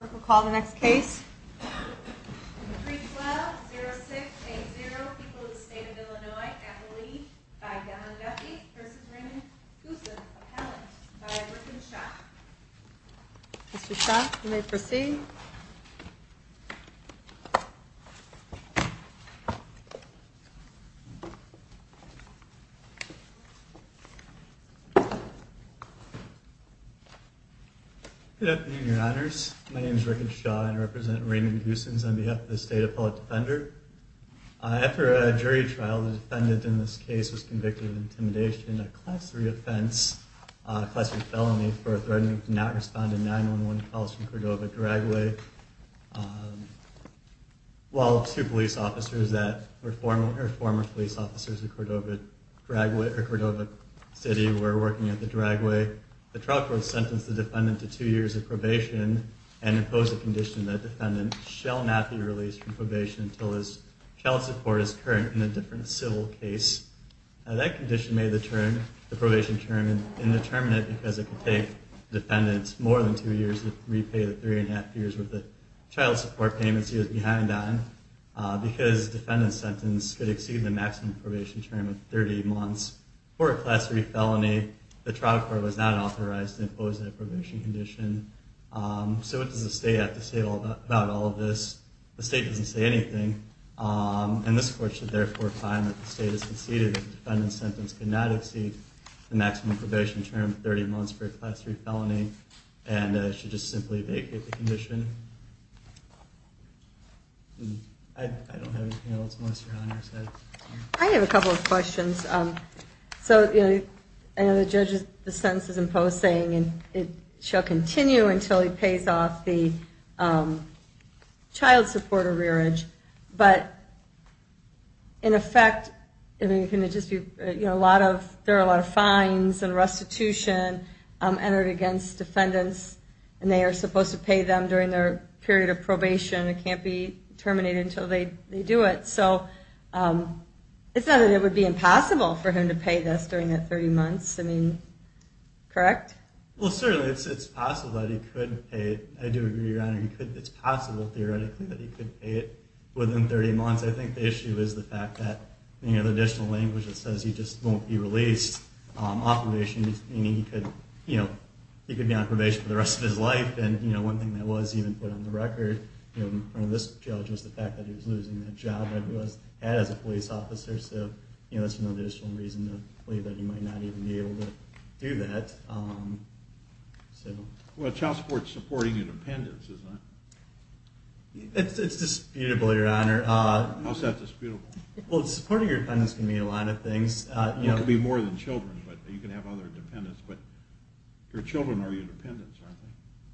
We'll call the next case. 3120680 people of the state of Illinois at the lead by Don Duffy v. Raymond Goossens, appellant by Griffin Schaaf. Mr. Schaaf, you may proceed. Good afternoon, Your Honors. My name is Rickard Schaaf and I represent Raymond Goossens on behalf of the State Appellate Defender. After a jury trial, the defendant in this case was convicted of intimidation, a class 3 offense, a class 3 felony for threatening to not respond to 911 calls from Cordova, Cordova-Drague, while two police officers that were former police officers in Cordova-Drague or Cordova City were working at the Drague. The trial court sentenced the defendant to two years of probation and imposed a condition that defendant shall not be released from probation until his child support is current in a different civil case. That condition made the probation term indeterminate because it could take defendants more than two years to repay the three and a half years with the child support payments he was behind on because defendant's sentence could exceed the maximum probation term of 30 months for a class 3 felony. The trial court was not authorized to impose that probation condition. So what does the state have to say about all of this? The state doesn't say anything and this court should therefore find that the state has conceded that the defendant's sentence could not exceed the maximum probation term of 30 months for a class 3 felony and should just simply vacate the condition. I have a couple of questions. So, you know, the judge is the sentence is imposed saying and it shall continue until he pays off the child support arrearage, but in effect, I mean, can it just be, you know, there are a lot of fines and restitution entered against defendants and they are supposed to pay them during their period of probation. It can't be terminated until they do it. So it's not that it would be impossible for him to pay this during that 30 months. I mean, correct? Well, certainly it's possible that he could pay it. I do agree, Your Honor. It's possible theoretically that he could pay it within 30 months. I think the issue is the fact that, you know, the additional language that says he just won't be released off probation meaning he could, you know, he could be on probation for the rest of his life. And, you know, one thing that was even put on the record, you know, in front of this judge was the fact that he was losing that job that he had as a police officer. So, you know, that's another just one reason to believe that he might not even be able to do that. So, well, child support is supporting independence, isn't it? It's disputable, Your Honor. How's that disputable? Well, supporting your independence can mean a lot of things, you know. It could be more than children, but you can have other dependents, but your children are your dependents, aren't they?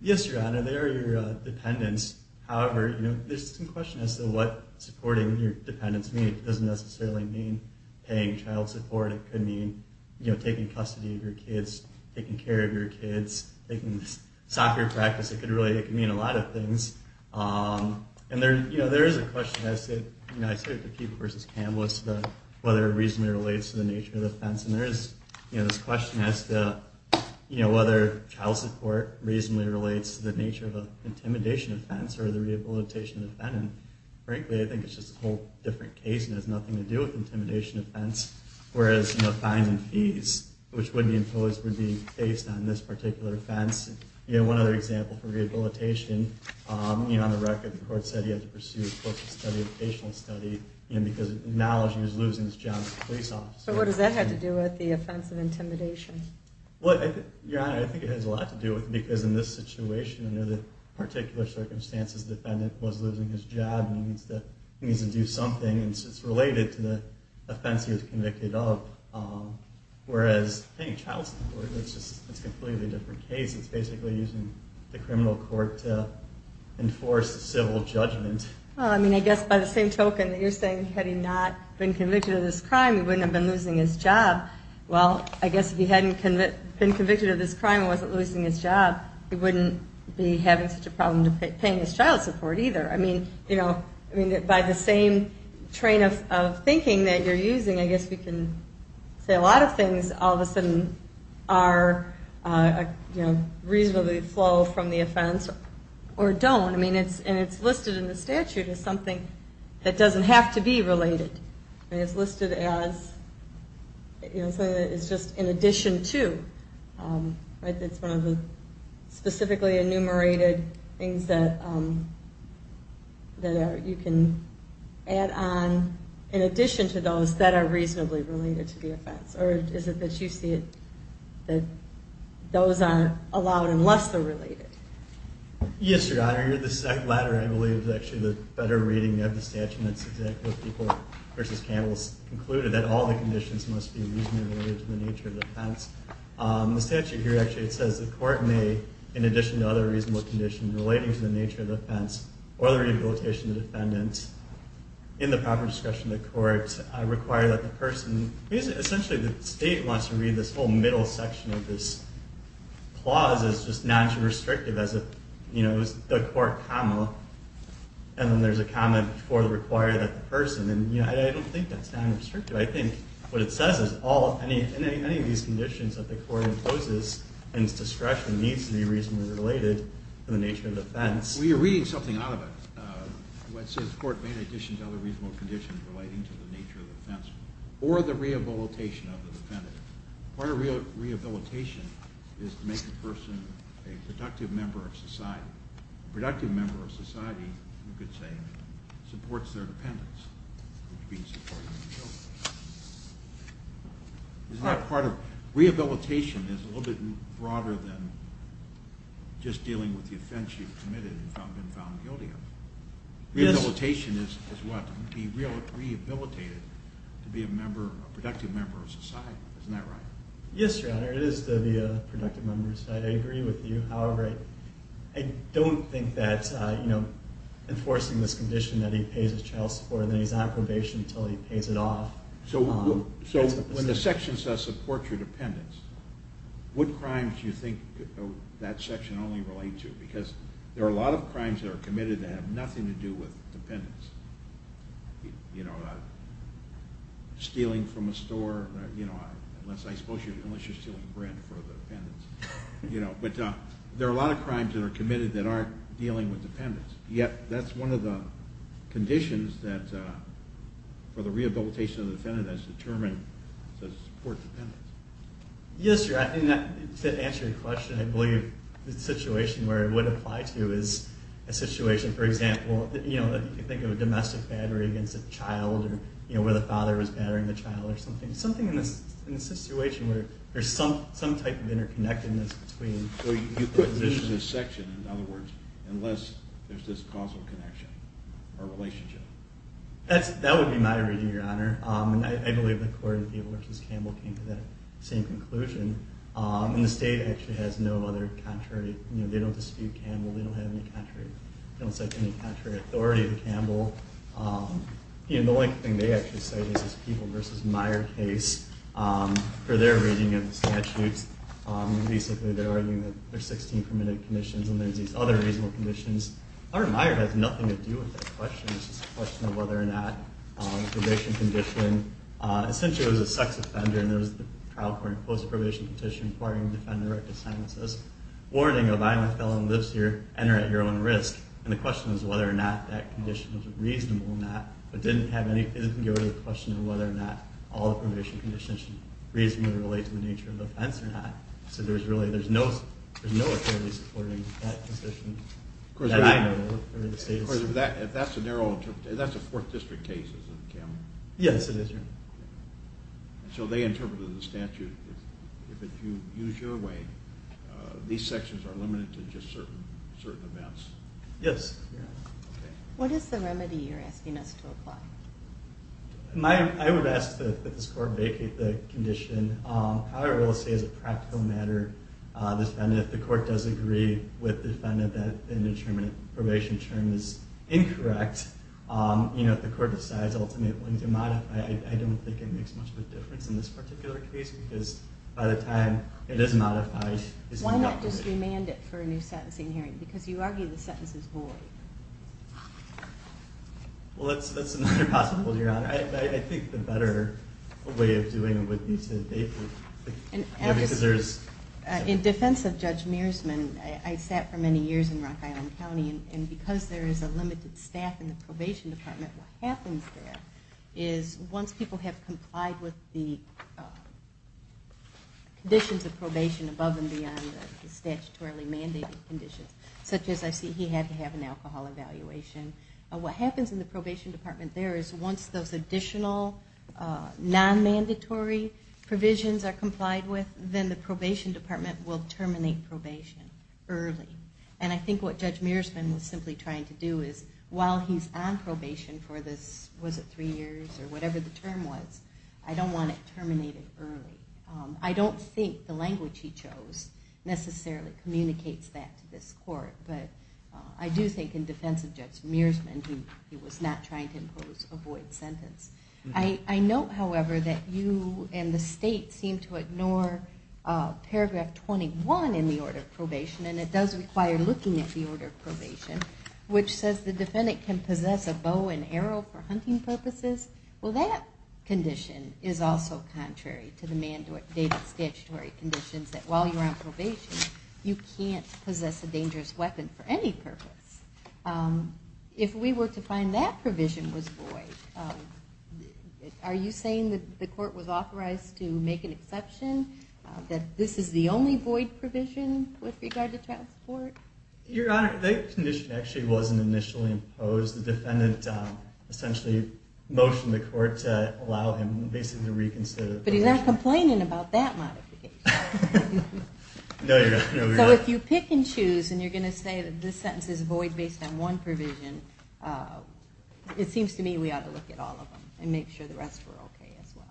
Yes, Your Honor. They are your dependents. However, you know, there's some question as to what supporting your dependence means. It doesn't necessarily mean paying child support. It could mean, you know, taking custody of your kids, taking care of your kids. They can stop your practice. It could really, it can mean a lot of things. And there, you know, there is a question I say, you know, I think, you know, there's a question about child support versus CAMBOS, whether it reasonably relates to the nature of the offense. And there is, you know, this question as to, you know, whether child support reasonably relates to the nature of an intimidation offense or the rehabilitation of an offendant. Frankly, I think it's just a whole different case and has nothing to do with intimidation offense. Whereas, you know, fine and fees, which would be imposed, would be based on this particular offense. You know, one other example for rehabilitation, you know, on study of patient study, you know, because now she was losing his job as a police officer. But what does that have to do with the offense of intimidation? Well, Your Honor, I think it has a lot to do with because in this situation, under the particular circumstances, the defendant was losing his job and he needs to, he needs to do something. And so it's related to the offense he was convicted of. Whereas paying child support, it's just, it's completely different case. It's basically using the criminal court to enforce civil judgment. Well, I mean, I guess by the same token that you're saying, had he not been convicted of this crime, he wouldn't have been losing his job. Well, I guess if he hadn't been convicted of this crime and wasn't losing his job, he wouldn't be having such a problem to paying his child support either. I mean, you know, I mean, by the same train of thinking that you're using, I guess we can say a lot of things all of a sudden are, you know, reasonably flow from the offense or don't. I mean, it's, and it's listed in the statute as something that doesn't have to be related. And it's listed as, you know, it's just in addition to, right? That's one of the specifically enumerated things that, that are, you can add on in addition to those that are reasonably related to the offense. Or is it that you see it, that those aren't allowed unless they're related? Yes, Your Honor. The second letter, I believe, is actually the better reading of the statute. And it's exactly what people, versus Campbell's, concluded that all the conditions must be reasonably related to the nature of the offense. The statute here actually, it says the court may, in addition to other reasonable conditions relating to the nature of the offense or the rehabilitation of the defendant in the proper discretion of the court, require that the person, essentially the state wants to read this whole middle section of this clause as just non-restrictive as a, you know, as the court comma, and then there's a comment for the required person. And, you know, I don't think that's non-restrictive. I think what it says is all, any of these conditions that the court imposes and its discretion needs to be reasonably related to the nature of the offense. Well, you're reading something out of it. It says the court may in addition to other reasonable conditions relating to the nature of the offense or the rehabilitation of the defendant. Part of rehabilitation is to make the person a productive member of society. Productive member of society, you could say, supports their dependence. It's not part of, rehabilitation is a little bit broader than just dealing with the offense you've committed and been found guilty of. Rehabilitation is what, to be rehabilitated to be a member, a productive member of society. Isn't that right? Yes, your honor. It is to be a productive member of society. I agree with you. However, I don't think that, you know, enforcing this condition that he pays his child support and then he's on probation until he pays it off. So, so when the section says support your dependence, what crimes do you think that section only relates to? Because there are a lot of crimes that are committed that have nothing to do with dependence. You know, stealing from a store, you know, unless I suppose you're, unless you're stealing bread for the dependents, you know, but there are a lot of crimes that are committed that aren't dealing with dependence. Yet, that's one of the conditions that, for the rehabilitation of the defendant that's determined to support dependence. Yes, your honor. I think that to answer your question, I believe the situation where it would apply to is a situation, for example, you know, you think of a domestic battery against a child or, you know, where the father was battering the child or something. Something in this, in a situation where there's some, some type of interconnectedness between. Well, you put this in a section, in other words, unless there's this causal connection or relationship. That's, that would be my reading, your honor. And I believe the court in Theodore v. Campbell came to that same conclusion. And the state actually has no other contrary, you know, they don't dispute Campbell. They don't have any contrary. They don't cite any contrary authority to Campbell. You know, the only thing they actually cite is this Peeble v. Meyer case for their reading of the statutes. Basically, they're arguing that there's 16 permitted conditions and there's these other reasonable conditions. Art Meyer has nothing to do with that question. It's just a question of whether or not the probation condition, essentially, it was a sex offender and there was the trial court imposed a probation petition requiring the defendant to write a sign that says, warning of, I, my felon lives here, enter at your own risk. And the question is whether or not that condition was reasonable or not, but didn't have any, it didn't go to the question of whether or not all the probation conditions should reasonably relate to the nature of the offense or not. So there's really, there's no, there's no authority supporting that position. Of course, if that's a narrow, that's a fourth district case, isn't it Campbell? Yes, it is, your honor. So they interpreted the statute, if you use your way, these Yes. What is the remedy you're asking us to apply? My, I would ask that this court vacate the condition. I will say as a practical matter, defendant, if the court does agree with the defendant that an indeterminate probation term is incorrect, you know, if the court decides ultimately to modify, I don't think it makes much of a difference in this particular case because by the time it is modified, Why not just remand it for a new sentencing hearing? Because you argue the sentence is void. Well, that's, that's another possibility, your honor. I think the better way of doing it would be to vacate it. In defense of Judge Mearsman, I sat for many years in Rock Island County and because there is a limited staff in the probation department, what happens there is once people have complied with the conditions of probation above and beyond the statutorily mandated conditions, such as I see he had to have an alcohol evaluation. What happens in the probation department there is once those additional non-mandatory provisions are complied with, then the probation department will terminate probation early. And I think what Judge Mearsman was simply trying to do is while he's on probation for this, was it three years or whatever the term was, I don't want it terminated early. I don't think the language he chose necessarily communicates that to this court. But I do think in defense of Judge Mearsman, he was not trying to impose a void sentence. I note, however, that you and the state seem to ignore paragraph 21 in the order of probation, and it does require looking at the order of probation, which says the defendant can possess a bow and arrow for hunting purposes. Well, that condition is also contrary to the mandated statutory conditions that while you're on probation, you can't possess a dangerous weapon for any purpose. If we were to find that provision was void, are you saying that the court was authorized to make an exception, that this is the only void provision with regard to child support? Your Honor, that condition actually wasn't initially imposed. The defendant essentially motioned the court to allow him basically to reconsider. But he's not complaining about that modification. No, Your Honor. So if you pick and choose and you're going to say that this sentence is void based on one provision, it seems to me we ought to look at all of them and make sure the rest were okay as well.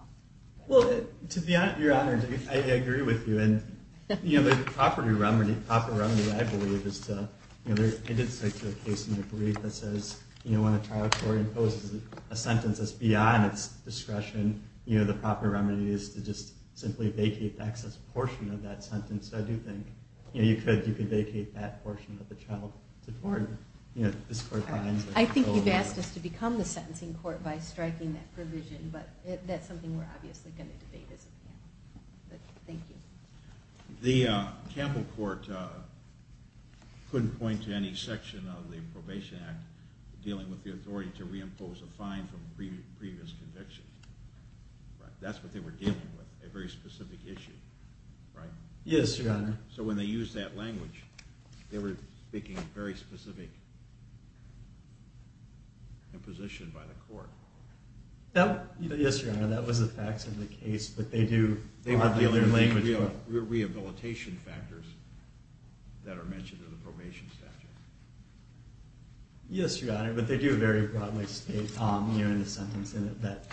Well, to be honest, Your Honor, I agree with you. And the proper remedy, I believe, is to, I did say to a case in your brief that says, you know, when a trial court imposes a sentence that's beyond its discretion, you know, the proper remedy is to just simply vacate the excess portion of that sentence. So I do think, you know, you could vacate that portion of the child support, you know, if this court finds it. I think you've asked us to become the sentencing court by striking that provision, but that's something we're obviously going to debate as a panel. But thank you. The Campbell court couldn't point to any section of the Probation Act dealing with the authority to reimpose a fine from previous convictions. That's what they were dealing with, a very specific issue, right? Yes, Your Honor. So when they use that language, they were speaking very specific imposition by the court. Yes, Your Honor, that was the facts of the case, but they do have their language. They were dealing with the rehabilitation factors that are mentioned in the probation statute. Yes, Your Honor, but they do very broadly state here in the sentence in it that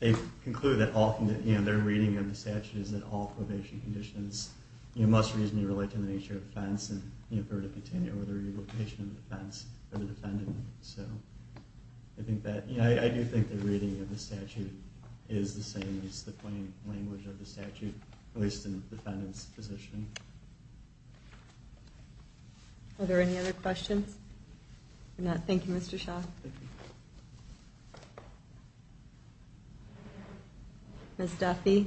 they conclude that often, you know, their reading of the statute is that all probation conditions, you know, must reasonably relate to the nature of offense and, you know, for it to continue over the rehabilitation of the defense or the defendant. So I think that, you know, I do think the reading of the statute, at least in the defendant's position. Are there any other questions? Thank you, Mr. Shaw. Ms. Duffy.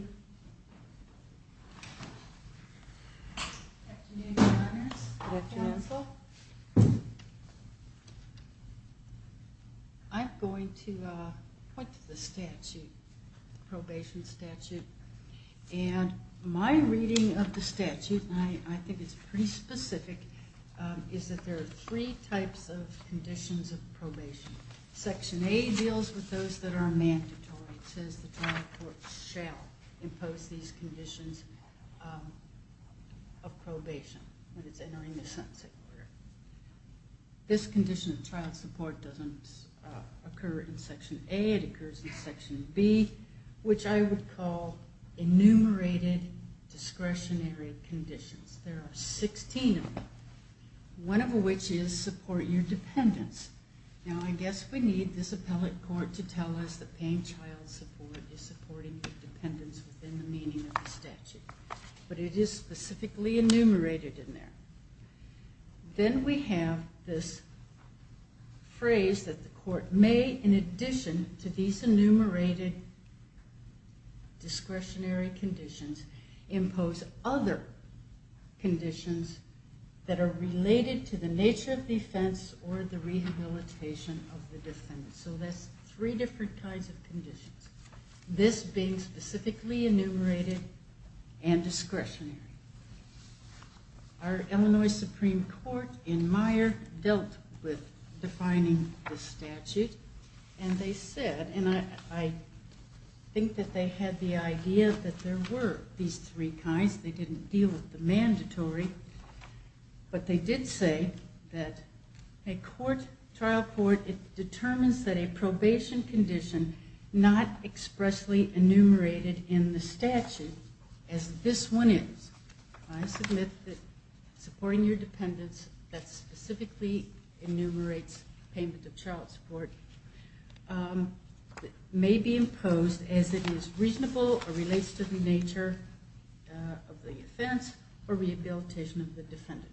I'm going to point to the statute, the probation statute, and my reading of the statute, and I think it's pretty specific, is that there are three types of conditions of probation. Section A deals with those that are mandatory. It says the trial court shall impose these conditions of probation when it's entering the sentencing order. This condition of trial support doesn't occur in Section A. It occurs in Section B, which I would call enumerated discretionary conditions. There are 16 of them, one of which is support your dependence. Now, I guess we need this appellate court to tell us that paying child support is supporting the dependence within the meaning of the statute, but it is specifically enumerated in there. Then we have this phrase that the court may, in addition to these enumerated discretionary conditions, impose other conditions that are related to the nature of defense or the rehabilitation of the defendant. So that's three different kinds of conditions, this being specifically enumerated and discretionary. Our Illinois Supreme Court in Meyer dealt with defining the statute and they said, and I think that they had the idea that there were these three kinds. They didn't deal with the mandatory, but they did say that a trial court determines that a probation condition not expressly enumerated in the statute as this one is. I submit that supporting your dependence that specifically enumerates payment of child support may be imposed as it is reasonable or relates to the nature of the offense or rehabilitation of the defendant.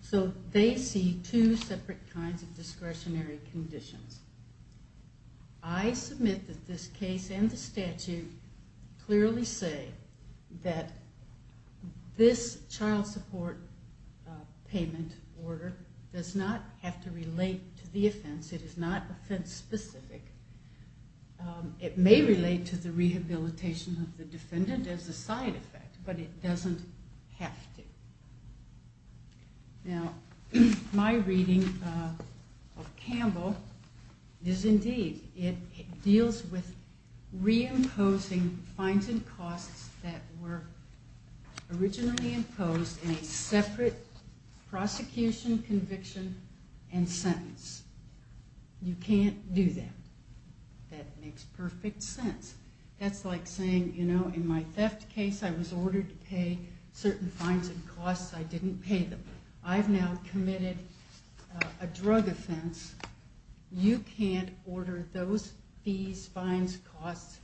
So they see two separate kinds of discretionary conditions. I submit that this case and the statute clearly say that this child support payment order does not have to relate to the offense. It is not offense specific. It may relate to the rehabilitation of the defendant as a side effect, but it doesn't have to. Now, my reading of Campbell is indeed, it deals with reimposing fines and costs that were originally imposed in a separate prosecution, conviction, and sentence. You can't do that. That makes perfect sense. That's like saying, you know, in my theft case, I was ordered to pay certain fines and costs. I didn't pay them. I've now committed a drug offense. You can't order those fees, fines, costs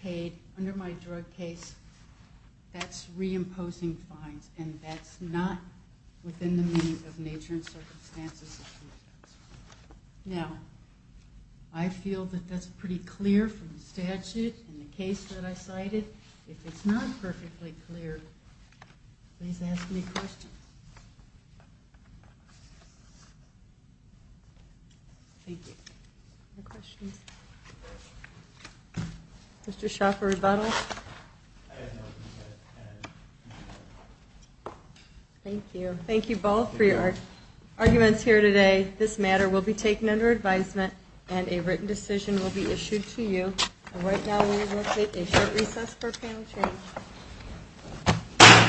paid under my drug case, that's reimposing fines and that's not within the meaning of nature and circumstances. Now, I feel that that's pretty clear from the statute and the case that I cited. If it's not perfectly clear, please ask me a question. Thank you. Mr. Shaw for rebuttal. Thank you. Thank you both for your arguments here today. This matter will be taken under advisement and a written decision will be issued to you. Right now, we will take a short recess for panel change.